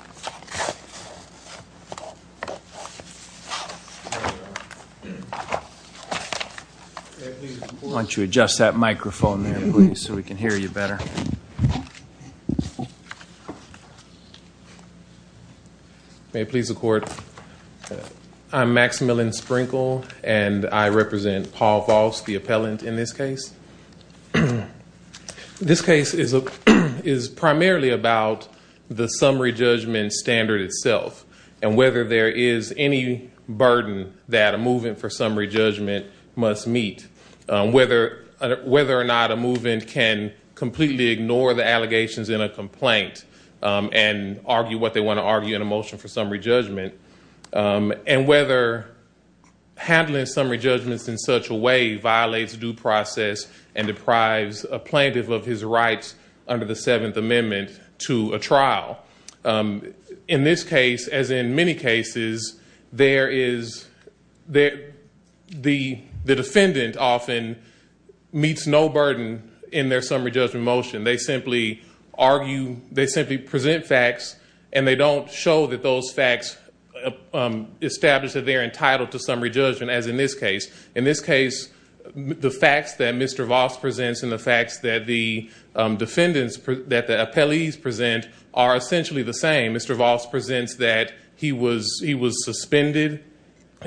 May it please the Court, I'm Maximillian Sprinkle and I represent Paul Voss, the appellant, This case is primarily about the summary judgment standard itself and whether there is any burden that a move-in for summary judgment must meet, whether or not a move-in can completely ignore the allegations in a complaint and argue what they want to argue in a motion for summary judgment, and whether handling summary judgments in such a way violates due process and deprives a plaintiff of his rights under the Seventh Amendment to a trial. In this case, as in many cases, the defendant often meets no burden in their summary judgment motion. They simply present facts and they don't show that those facts establish that they're entitled to summary judgment, as in this case. In this case, the facts that Mr. Voss presents and the facts that the defendants, that the appellees present, are essentially the same. Mr. Voss presents that he was suspended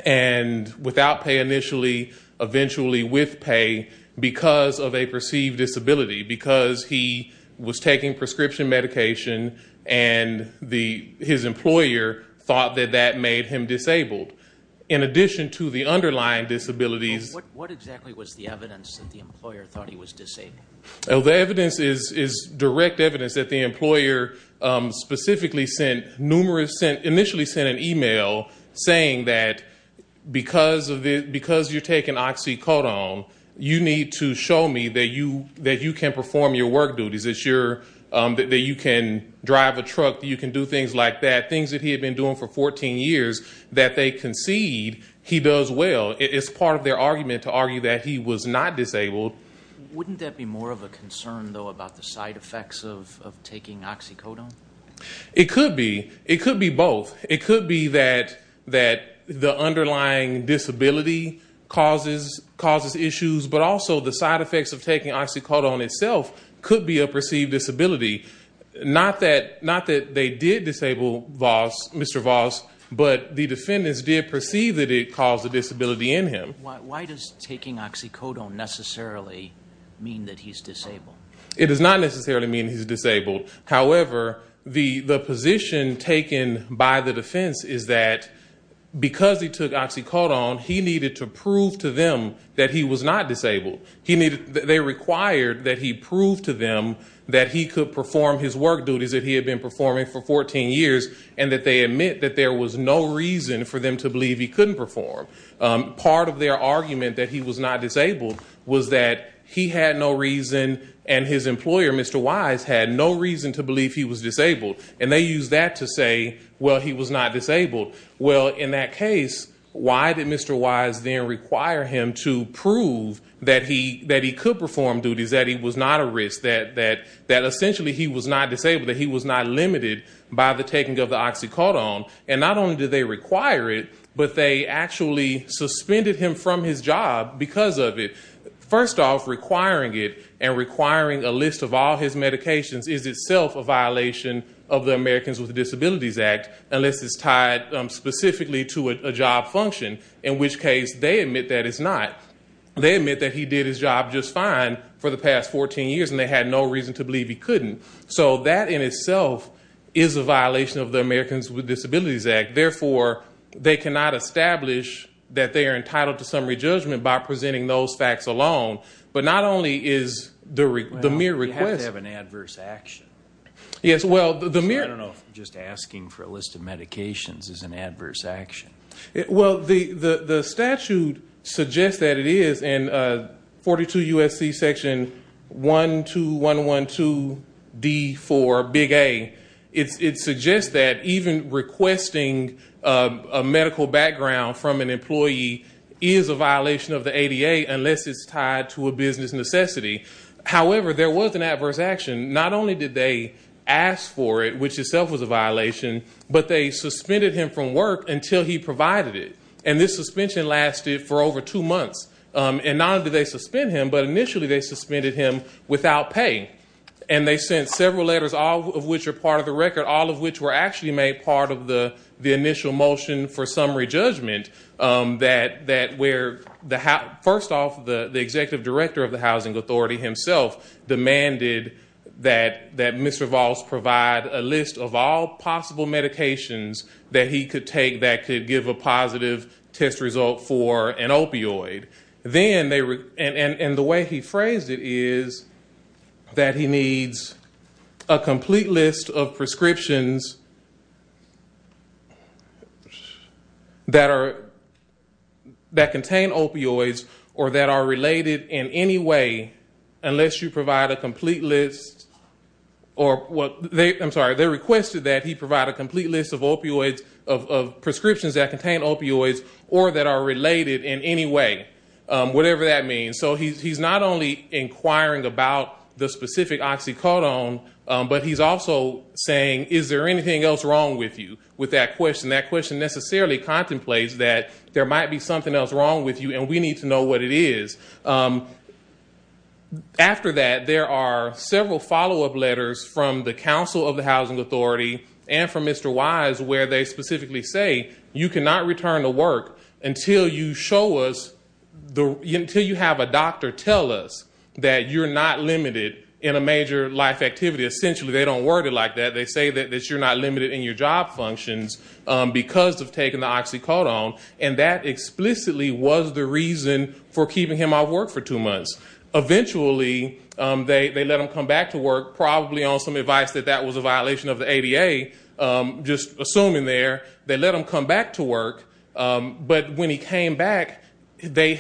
and without pay initially, eventually with pay because of a perceived disability, because he was taking prescription medication and his employer thought that that made him disabled. In addition to the underlying disabilities... What exactly was the evidence that the employer thought he was disabled? The evidence is direct evidence that the employer initially sent an email saying that because you're taking oxycodone, you need to show me that you can perform your work duties, that you can drive a truck, that you can do things like that, things that he had been doing for 14 years, that they concede he does well. It's part of their argument to argue that he was not disabled. Wouldn't that be more of a concern, though, about the side effects of taking oxycodone? It could be. It could be both. It could be that the underlying disability causes issues, but also the side effects of taking oxycodone itself could be a perceived disability. Not that they did disable Mr. Voss, but the defendants did perceive that it caused a disability in him. Why does taking oxycodone necessarily mean that he's disabled? It does not necessarily mean he's disabled. However, the position taken by the defense is that because he took oxycodone, he needed to prove to them that he was not disabled. They required that he prove to them that he could perform his work duties that he had been performing for 14 years and that they admit that there was no reason for them to believe he couldn't perform. Part of their argument that he was not disabled was that he had no reason and his employer, Mr. Wise, had no reason to believe he was disabled. And they used that to say, well, he was not disabled. Well, in that case, why did Mr. Wise then require him to prove that he could perform duties, that he was not at risk, that essentially he was not disabled, that he was not limited by the taking of the oxycodone? And not only did they require it, but they actually suspended him from his job because of it. First off, requiring it and requiring a list of all his medications is itself a violation of the Americans with Disabilities Act, unless it's tied specifically to a job function, in which case they admit that it's not. They admit that he did his job just fine for the past 14 years, and they had no reason to believe he couldn't. So that in itself is a violation of the Americans with Disabilities Act. Therefore, they cannot establish that they are entitled to summary judgment by presenting those facts alone. But not only is the mere request- Well, you have to have an adverse action. Yes, well, the mere- I don't know if just asking for a list of medications is an adverse action. Well, the statute suggests that it is in 42 U.S.C. section 12112D4, big A. It suggests that even requesting a medical background from an employee is a violation of the ADA, unless it's tied to a business necessity. However, there was an adverse action. Not only did they ask for it, which itself was a violation, but they suspended him from work until he provided it. And this suspension lasted for over two months. And not only did they suspend him, but initially they suspended him without pay. And they sent several letters, all of which are part of the record, all of which were actually made part of the initial motion for summary judgment, that where, first off, the executive director of the Housing Authority himself demanded that Mr. Voss provide a list of all possible medications that he could take that could give a positive test result for an opioid. And the way he phrased it is that he needs a complete list of prescriptions that contain opioids or that are related in any way, whatever that means. So he's not only inquiring about the specific oxycodone, but he's also saying, is there anything else wrong with you with that question? That question necessarily contemplates that there might be something else wrong with you, and we need to know what it is. After that, there are several follow-up letters from the Council of the Housing Authority and from Mr. Wise, where they specifically say, you cannot return to work until you show us, until you have a doctor tell us that you're not limited in a major life activity. Essentially, they don't word it like that. They say that you're not limited in your job functions because of taking the oxycodone, and that explicitly was the reason for keeping him out of work for two months. Eventually, they let him come back to work, probably on some advice that that was a violation of the ADA, just assuming there, they let him come back to work. But when he came back, they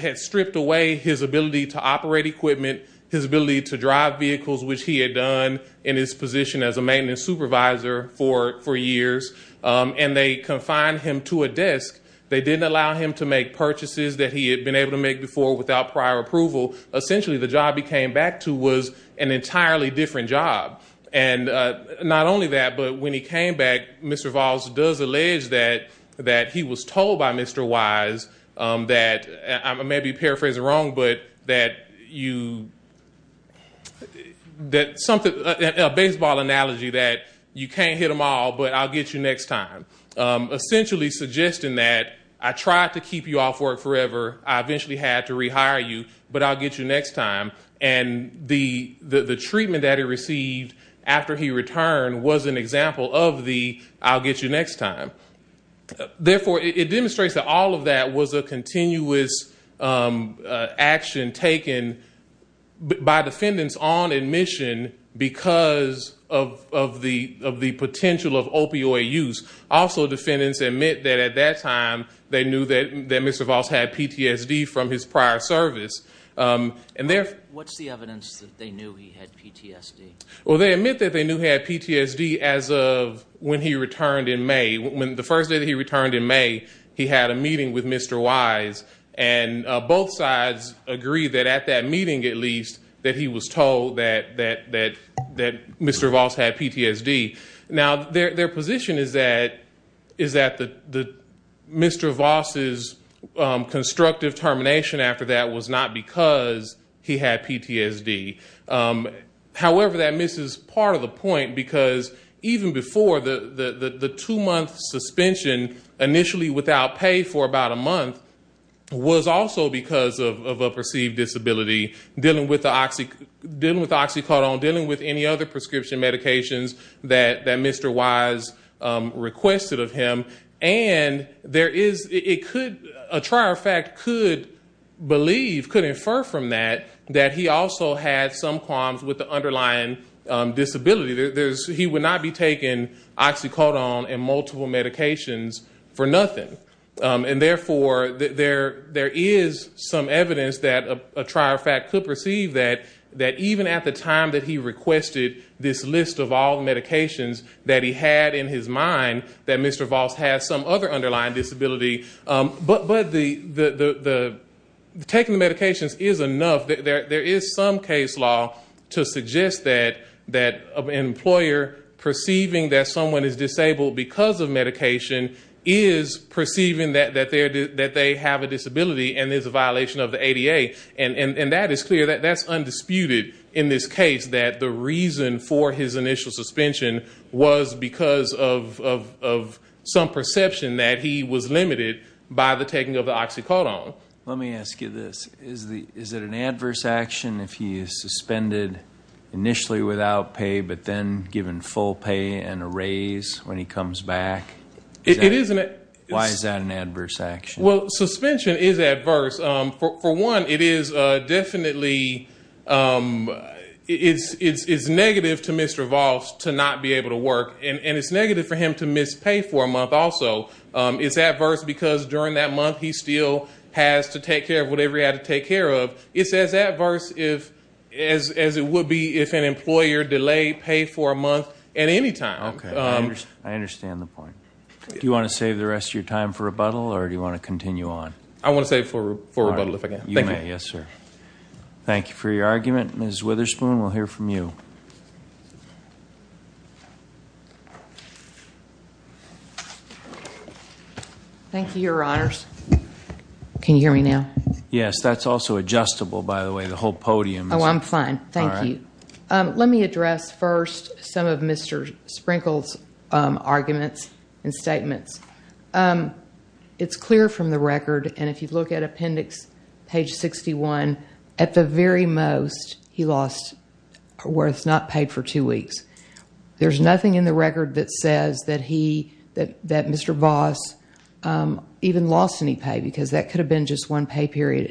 had stripped away his ability to operate equipment, his ability to drive vehicles, which he had done in his position as a maintenance supervisor for years, and they confined him to a desk. They didn't allow him to make purchases that he had been able to make before without prior approval. Essentially, the job he came back to was an entirely different job. And not only that, but when he came back, Mr. Voss does allege that he was told by Mr. Wise that, I may be paraphrasing wrong, but that you, that something, a baseball analogy, that you can't hit them all, but I'll get you next time. Essentially suggesting that, I tried to keep you off work forever. I eventually had to rehire you, but I'll get you next time. And the treatment that he received after he returned was an example of the, I'll get you next time. Therefore, it demonstrates that all of that was a continuous action taken by defendants on admission because of the potential of opioid use. Also, defendants admit that at that time, they knew that Mr. Voss had PTSD from his prior service. What's the evidence that they knew he had PTSD? Well, they admit that they knew he had PTSD as of when he returned in May. The first day that he returned in May, he had a meeting with Mr. Wise, and both sides agreed that at that meeting, at least, that he was told that Mr. Voss had PTSD. Now, their position is that Mr. Voss' constructive termination after that was not because he had PTSD. However, that misses part of the point because even before, the two-month suspension, initially without pay for about a month, was also because of a perceived disability, dealing with oxycodone, dealing with any other prescription medications that Mr. Wise requested of him. And a trier of fact could believe, could infer from that, that he also had some qualms with the underlying disability. He would not be taking oxycodone and multiple medications for nothing. And therefore, there is some evidence that a trier of fact could perceive that, that even at the time that he requested this list of all the medications that he had in his mind, that Mr. Voss had some other underlying disability. But taking the medications is enough. There is some case law to suggest that an employer perceiving that someone is disabled because of medication is perceiving that they have a disability and is a violation of the ADA. And that is clear. That's undisputed in this case, that the reason for his initial suspension was because of some perception that he was limited by the taking of the oxycodone. Let me ask you this. Is it an adverse action if he is suspended initially without pay but then given full pay and a raise when he comes back? Why is that an adverse action? Well, suspension is adverse. For one, it is definitely negative to Mr. Voss to not be able to work. And it's negative for him to miss pay for a month also. It's adverse because during that month he still has to take care of whatever he had to take care of. It's as adverse as it would be if an employer delayed pay for a month at any time. Okay. I understand the point. Do you want to save the rest of your time for rebuttal or do you want to continue on? I want to save it for rebuttal if I can. You may. Yes, sir. Thank you for your argument. Ms. Witherspoon, we'll hear from you. Thank you, Your Honors. Can you hear me now? Yes. That's also adjustable, by the way. The whole podium is. Oh, I'm fine. Thank you. All right. Let me address first some of Mr. Sprinkle's arguments and statements. It's clear from the record, and if you look at appendix page 61, at the very most, he lost where it's not paid for two weeks. There's nothing in the record that says that Mr. Voss even lost any pay because that could have been just one pay period.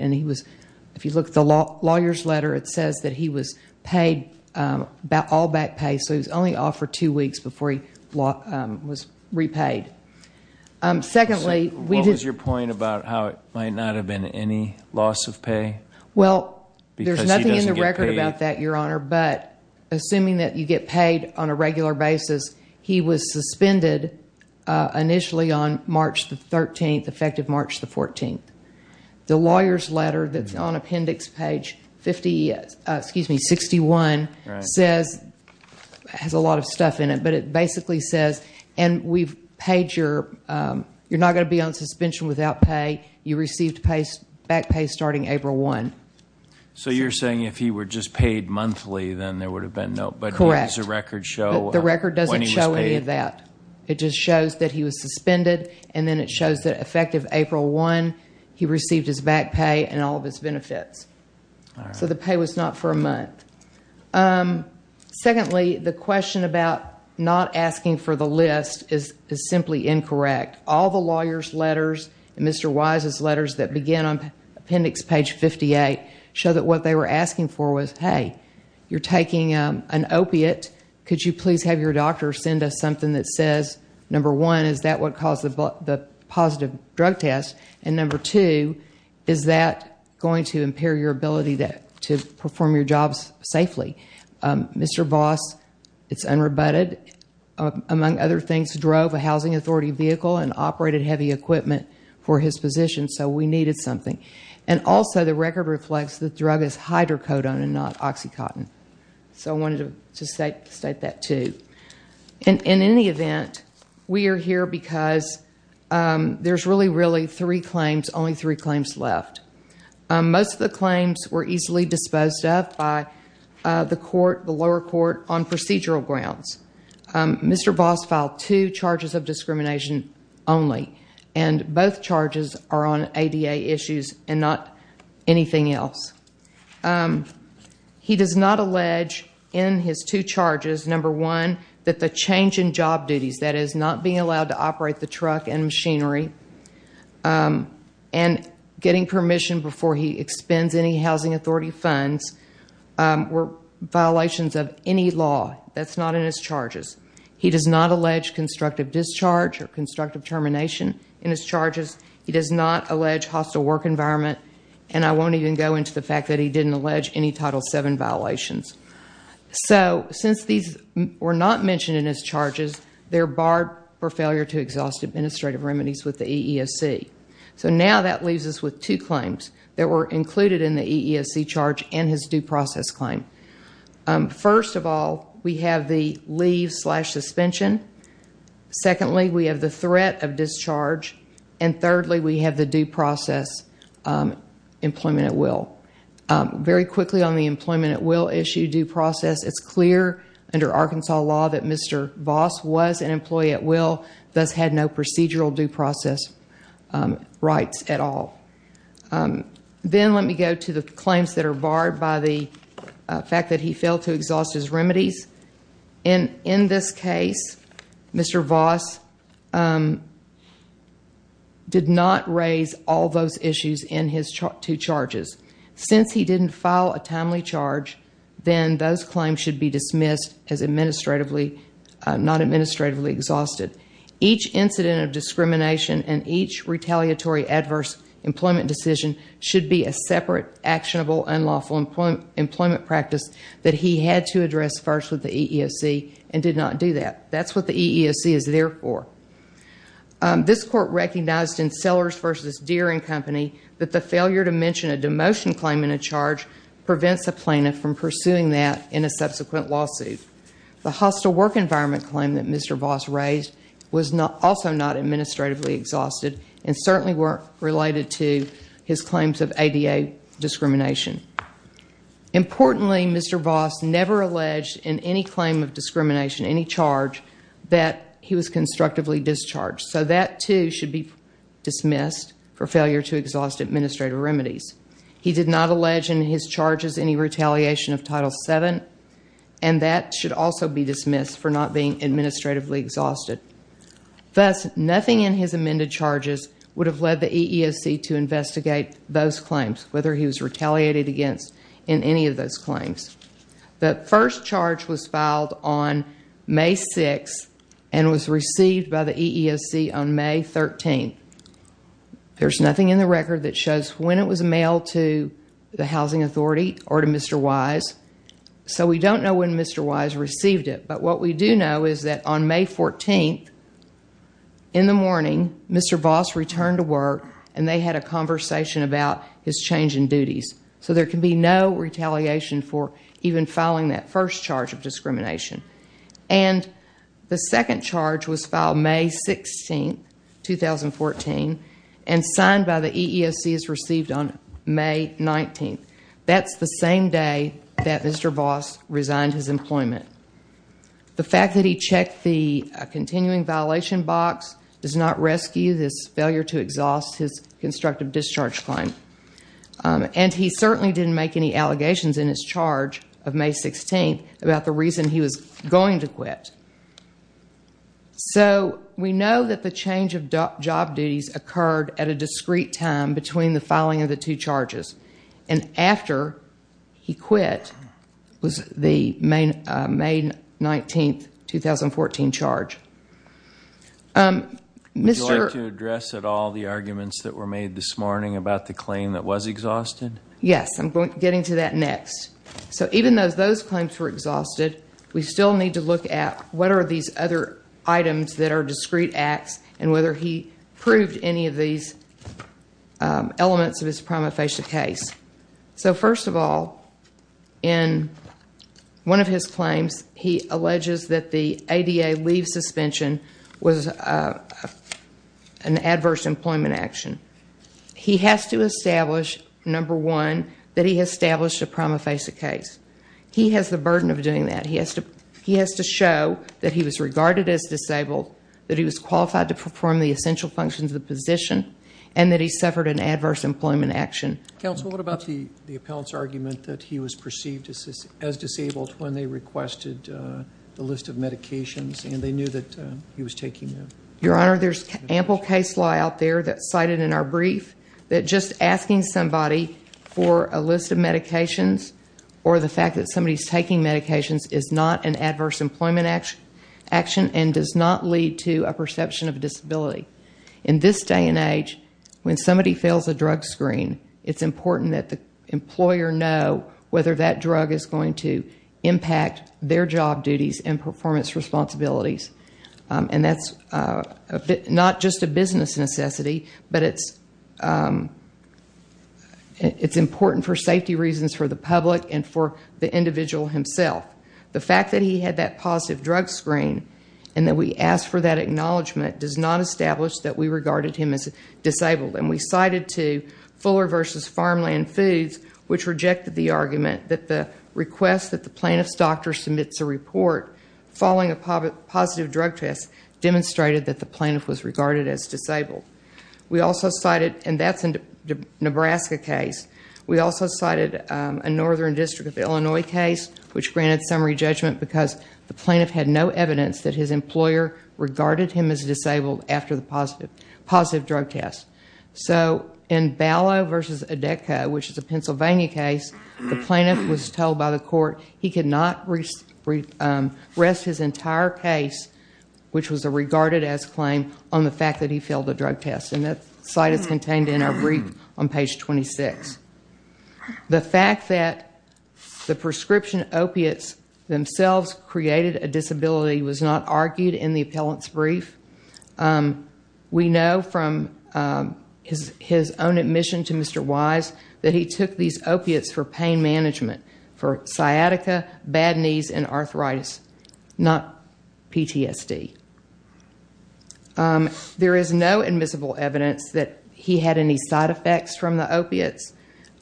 If you look at the lawyer's letter, it says that he was paid all back pay, so he was only off for two weeks before he was repaid. Secondly, we did. What was your point about how it might not have been any loss of pay because he doesn't get paid? Assuming that you get paid on a regular basis, he was suspended initially on March 13th, effective March 14th. The lawyer's letter that's on appendix page 61 has a lot of stuff in it, but it basically says, and you're not going to be on suspension without pay. You received back pay starting April 1. So you're saying if he were just paid monthly, then there would have been no, but here's a record show when he was paid. The record doesn't show any of that. It just shows that he was suspended, and then it shows that effective April 1, he received his back pay and all of his benefits. So the pay was not for a month. Secondly, the question about not asking for the list is simply incorrect. All the lawyer's letters and Mr. Wise's letters that begin on appendix page 58 show that what they were asking for was, hey, you're taking an opiate. Could you please have your doctor send us something that says, number one, is that what caused the positive drug test, and number two, is that going to impair your ability to perform your jobs safely? Mr. Voss, it's unrebutted. Among other things, drove a housing authority vehicle and operated heavy equipment for his position, so we needed something. And also, the record reflects the drug is hydrocodone and not OxyContin. So I wanted to state that too. In any event, we are here because there's really, really three claims, only three claims left. Most of the claims were easily disposed of by the court, the lower court, on procedural grounds. Mr. Voss filed two charges of discrimination only, and both charges are on ADA issues and not anything else. He does not allege in his two charges, number one, that the change in job duties, that is, not being allowed to operate the truck and machinery, and getting permission before he expends any housing authority funds were violations of any law. That's not in his charges. He does not allege constructive discharge or constructive termination in his charges. He does not allege hostile work environment, and I won't even go into the fact that he didn't allege any Title VII violations. So since these were not mentioned in his charges, they're barred for failure to exhaust administrative remedies with the EEOC. So now that leaves us with two claims that were included in the EEOC charge and his due process claim. First of all, we have the leave slash suspension. Secondly, we have the threat of discharge. And thirdly, we have the due process employment at will. Very quickly on the employment at will issue due process, it's clear under Arkansas law that Mr. Voss was an employee at will, thus had no procedural due process rights at all. Then let me go to the claims that are barred by the fact that he failed to exhaust his remedies. And in this case, Mr. Voss did not raise all those issues in his two charges. Since he didn't file a timely charge, then those claims should be dismissed as not administratively exhausted. Each incident of discrimination and each retaliatory adverse employment decision should be a separate, actionable, unlawful employment practice that he had to address first with the EEOC and did not do that. That's what the EEOC is there for. This court recognized in Sellers v. Deere and Company that the failure to mention a demotion claim in a charge prevents a plaintiff from pursuing that in a subsequent lawsuit. The hostile work environment claim that Mr. Voss raised was also not administratively exhausted and certainly weren't related to his claims of ADA discrimination. Importantly, Mr. Voss never alleged in any claim of discrimination, any charge, that he was constructively discharged. So that, too, should be dismissed for failure to exhaust administrative remedies. He did not allege in his charges any retaliation of Title VII, and that should also be dismissed for not being administratively exhausted. Thus, nothing in his amended charges would have led the EEOC to investigate those claims, whether he was retaliated against in any of those claims. The first charge was filed on May 6 and was received by the EEOC on May 13. There's nothing in the record that shows when it was mailed to the Housing Authority or to Mr. Wise, so we don't know when Mr. Wise received it. But what we do know is that on May 14, in the morning, Mr. Voss returned to work, and they had a conversation about his change in duties. So there can be no retaliation for even filing that first charge of discrimination. And the second charge was filed May 16, 2014, and signed by the EEOC as received on May 19. That's the same day that Mr. Voss resigned his employment. The fact that he checked the continuing violation box does not rescue his failure to exhaust his constructive discharge claim. And he certainly didn't make any allegations in his charge of May 16 about the reason he was going to quit. So we know that the change of job duties occurred at a discrete time between the filing of the two charges. And after he quit was the May 19, 2014 charge. Would you like to address at all the arguments that were made this morning about the claim that was exhausted? Yes, I'm getting to that next. So even though those claims were exhausted, we still need to look at what are these other items that are discrete acts and whether he proved any of these elements of his prima facie case. So first of all, in one of his claims, he alleges that the ADA leave suspension was an adverse employment action. He has to establish, number one, that he has established a prima facie case. He has the burden of doing that. He has to show that he was regarded as disabled, that he was qualified to perform the essential functions of the position, and that he suffered an adverse employment action. Counsel, what about the appellant's argument that he was perceived as disabled when they requested the list of medications and they knew that he was taking them? Your Honor, there's ample case law out there that's cited in our brief that just asking somebody for a list of medications or the fact that somebody's taking medications is not an adverse employment action and does not lead to a perception of disability. In this day and age, when somebody fails a drug screen, it's important that the employer know whether that drug is going to impact their job duties and performance responsibilities. And that's not just a business necessity, but it's important for safety reasons for the public and for the individual himself. The fact that he had that positive drug screen and that we asked for that acknowledgement does not establish that we regarded him as disabled. And we cited, too, Fuller v. Farmland Foods, which rejected the argument that the request that the plaintiff's doctor submits a report following a positive drug test demonstrated that the plaintiff was regarded as disabled. We also cited, and that's a Nebraska case, we also cited a Northern District of Illinois case, which granted summary judgment because the plaintiff had no evidence that his employer regarded him as disabled after the positive drug test. So in Balow v. Odecca, which is a Pennsylvania case, the plaintiff was told by the court he could not rest his entire case, which was a regarded as claim, on the fact that he failed the drug test. And that slide is contained in our brief on page 26. The fact that the prescription opiates themselves created a disability was not argued in the appellant's brief. We know from his own admission to Mr. Wise that he took these opiates for pain management, for sciatica, bad knees, and arthritis, not PTSD. There is no admissible evidence that he had any side effects from the opiates,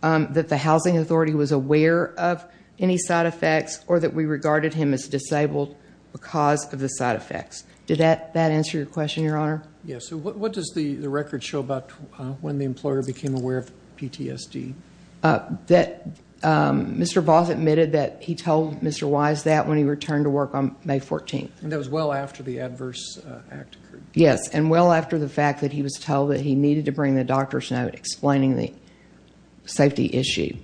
that the housing authority was aware of any side effects, or that we regarded him as disabled because of the side effects. Did that answer your question, Your Honor? Yes. So what does the record show about when the employer became aware of PTSD? Mr. Voss admitted that he told Mr. Wise that when he returned to work on May 14th. And that was well after the adverse act occurred. Yes, and well after the fact that he was told that he needed to bring the doctor's note explaining the safety issue.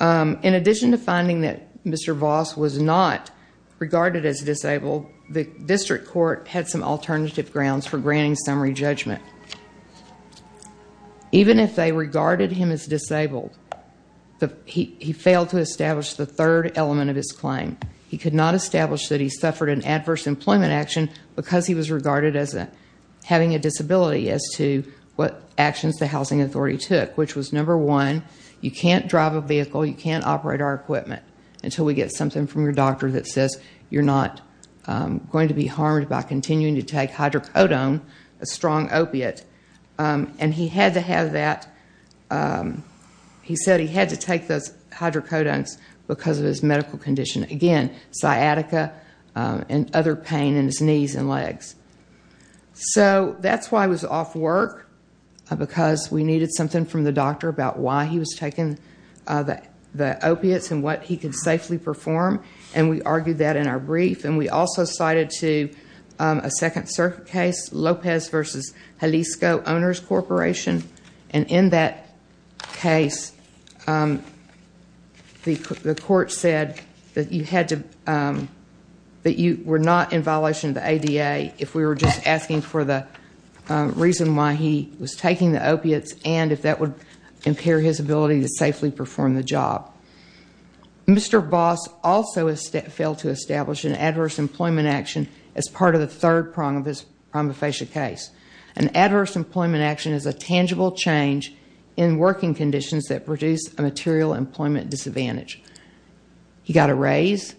In addition to finding that Mr. Voss was not regarded as disabled, the district court had some alternative grounds for granting summary judgment. Even if they regarded him as disabled, he failed to establish the third element of his claim. He could not establish that he suffered an adverse employment action because he was regarded as having a disability as to what actions the housing authority took, which was number one, you can't drive a vehicle, you can't operate our equipment, until we get something from your doctor that says you're not going to be harmed by continuing to take hydrocodone, a strong opiate. And he had to have that, he said he had to take those hydrocodones because of his medical condition. Again, sciatica and other pain in his knees and legs. So, that's why I was off work, because we needed something from the doctor about why he was taking the opiates and what he could safely perform. And we argued that in our brief. And we also cited a second case, Lopez v. Jalisco Owners Corporation. And in that case, the court said that you were not in violation of the ADA if we were just asking for the reason why he was taking the opiates and if that would impair his ability to safely perform the job. Mr. Boss also failed to establish an adverse employment action as part of the third prong of his prima facie case. An adverse employment action is a tangible change in working conditions that produce a material employment disadvantage. He got a raise,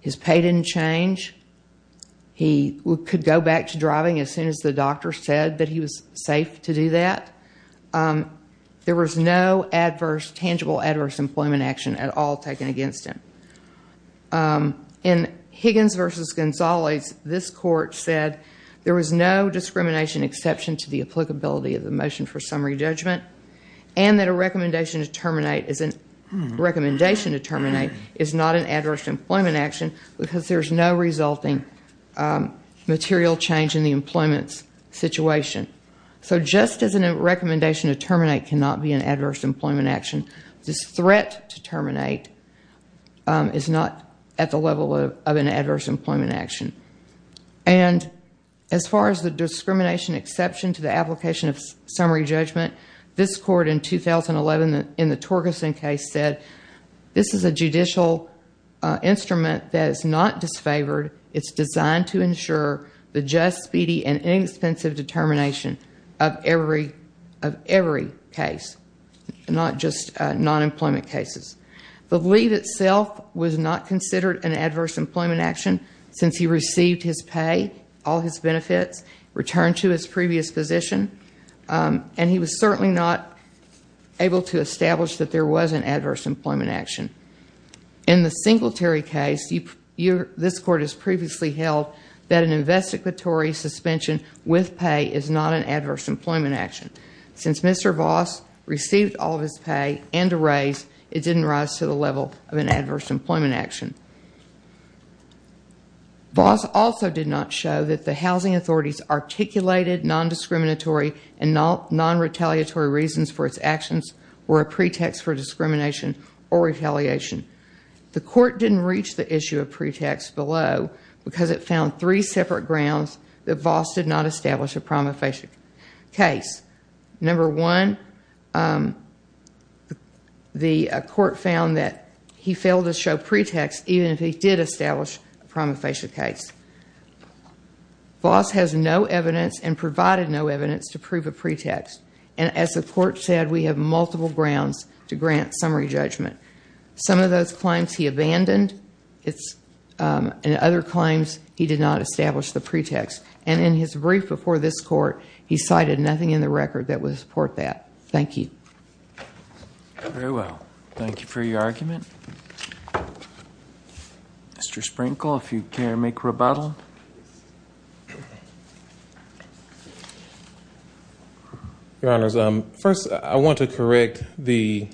his pay didn't change, he could go back to driving as soon as the doctor said that he was safe to do that. There was no adverse, tangible adverse employment action at all taken against him. In Higgins v. Gonzales, this court said there was no discrimination exception to the applicability of the motion for summary judgment and that a recommendation to terminate is not an adverse employment action because there's no resulting material change in the employment situation. So, just as a recommendation to terminate cannot be an adverse employment action, this threat to terminate is not at the level of an adverse employment action. And as far as the discrimination exception to the application of summary judgment, this court in 2011 in the Torgerson case said, this is a judicial instrument that is not disfavored, it's designed to ensure the just, speedy, and inexpensive determination of every case, not just non-employment cases. The leave itself was not considered an adverse employment action since he received his pay, all his benefits, returned to his previous position, and he was certainly not able to establish that there was an adverse employment action. In the Singletary case, this court has previously held that an investigatory suspension with pay is not an adverse employment action. Since Mr. Voss received all of his pay and a raise, it didn't rise to the level of an adverse employment action. Voss also did not show that the housing authorities articulated non-discriminatory and non-retaliatory reasons for its actions were a pretext for discrimination or retaliation. The court didn't reach the issue of pretext below because it found three separate grounds that Voss did not establish a prima facie case. Number one, the court found that he failed to show pretext even if he did establish a prima facie case. Voss has no evidence and provided no evidence to prove a pretext, and as the court said, we have multiple grounds to grant summary judgment. Some of those claims he abandoned, and other claims he did not establish the pretext. And in his brief before this court, he cited nothing in the record that would support that. Thank you. Very well. Thank you for your argument. Mr. Sprinkle, if you can make rebuttal. Okay. Your Honors, first I want to correct the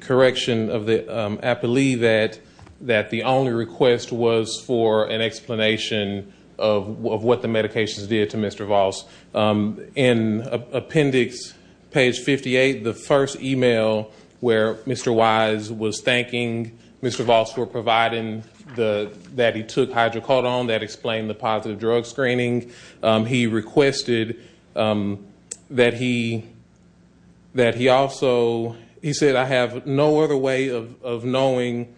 correction of the appellee that the only request was for an explanation of what the medications did to Mr. Voss. In appendix page 58, the first email where Mr. Wise was thanking Mr. Voss for providing that he took hydrocodone, that explained the positive drug screening, he requested that he also, he said, I have no other way of knowing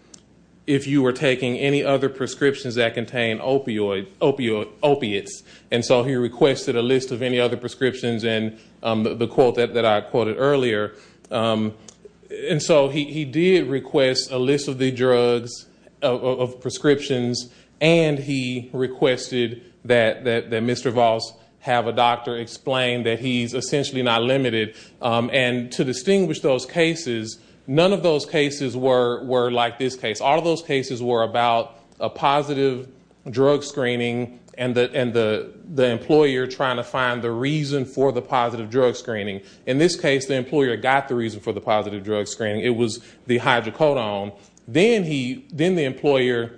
if you were taking any other prescriptions that contain opiates. And so he requested a list of any other prescriptions and the quote that I quoted earlier. And so he did request a list of the drugs, of prescriptions, and he requested that Mr. Voss have a doctor explain that he's essentially not limited. And to distinguish those cases, none of those cases were like this case. All of those cases were about a positive drug screening and the employer trying to find the reason for the positive drug screening. In this case, the employer got the reason for the positive drug screening. It was the hydrocodone. Then the employer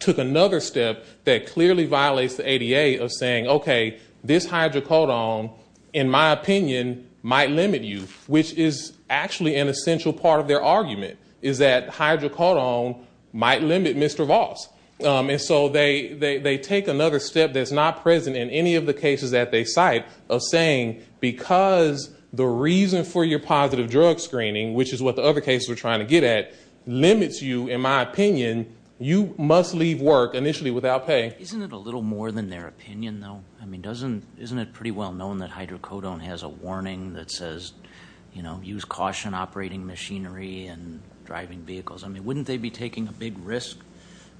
took another step that clearly violates the ADA of saying, okay, this hydrocodone, in my opinion, might limit you, which is actually an essential part of their argument, is that hydrocodone might limit Mr. Voss. And so they take another step that's not present in any of the cases that they cite, of saying because the reason for your positive drug screening, which is what the other cases were trying to get at, limits you, in my opinion, you must leave work initially without pay. Isn't it a little more than their opinion, though? I mean, isn't it pretty well known that hydrocodone has a warning that says, you know, use caution operating machinery and driving vehicles? I mean, wouldn't they be taking a big risk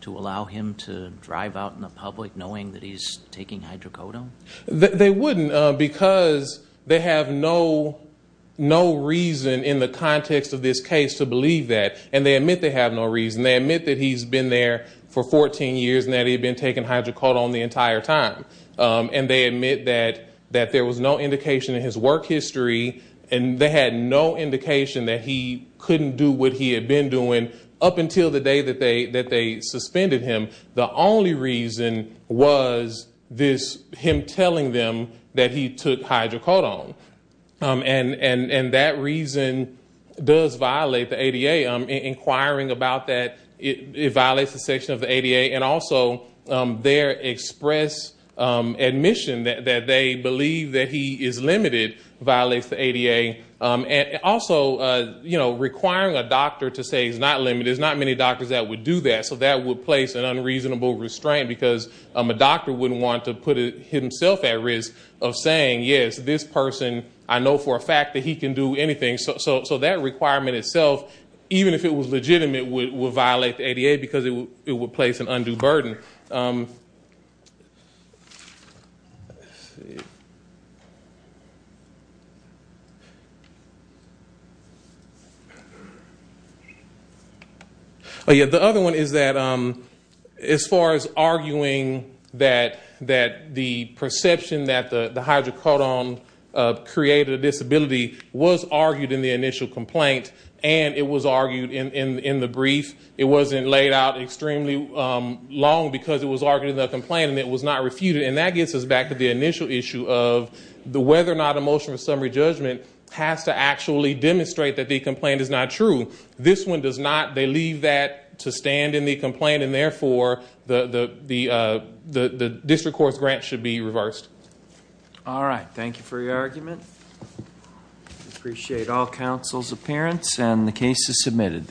to allow him to drive out in the public knowing that he's taking hydrocodone? They wouldn't because they have no reason in the context of this case to believe that. And they admit they have no reason. They admit that he's been there for 14 years and that he'd been taking hydrocodone the entire time. And they admit that there was no indication in his work history, and they had no indication that he couldn't do what he had been doing up until the day that they suspended him. And the only reason was this, him telling them that he took hydrocodone. And that reason does violate the ADA. Inquiring about that, it violates the section of the ADA. And also their express admission that they believe that he is limited violates the ADA. And also, you know, requiring a doctor to say he's not limited, there's not many doctors that would do that. So that would place an unreasonable restraint because a doctor wouldn't want to put himself at risk of saying, yes, this person I know for a fact that he can do anything. So that requirement itself, even if it was legitimate, would violate the ADA because it would place an undue burden. The other one is that as far as arguing that the perception that the hydrocodone created a disability was argued in the initial complaint and it was argued in the brief, it wasn't laid out extremely long because it was argued in the complaint and it was not refuted. And that gets us back to the initial issue of whether or not a motion of summary judgment has to actually demonstrate that the complaint is not true. This one does not. They leave that to stand in the complaint. And therefore, the district court's grant should be reversed. All right. Thank you for your argument. Appreciate all counsel's appearance and the case is submitted.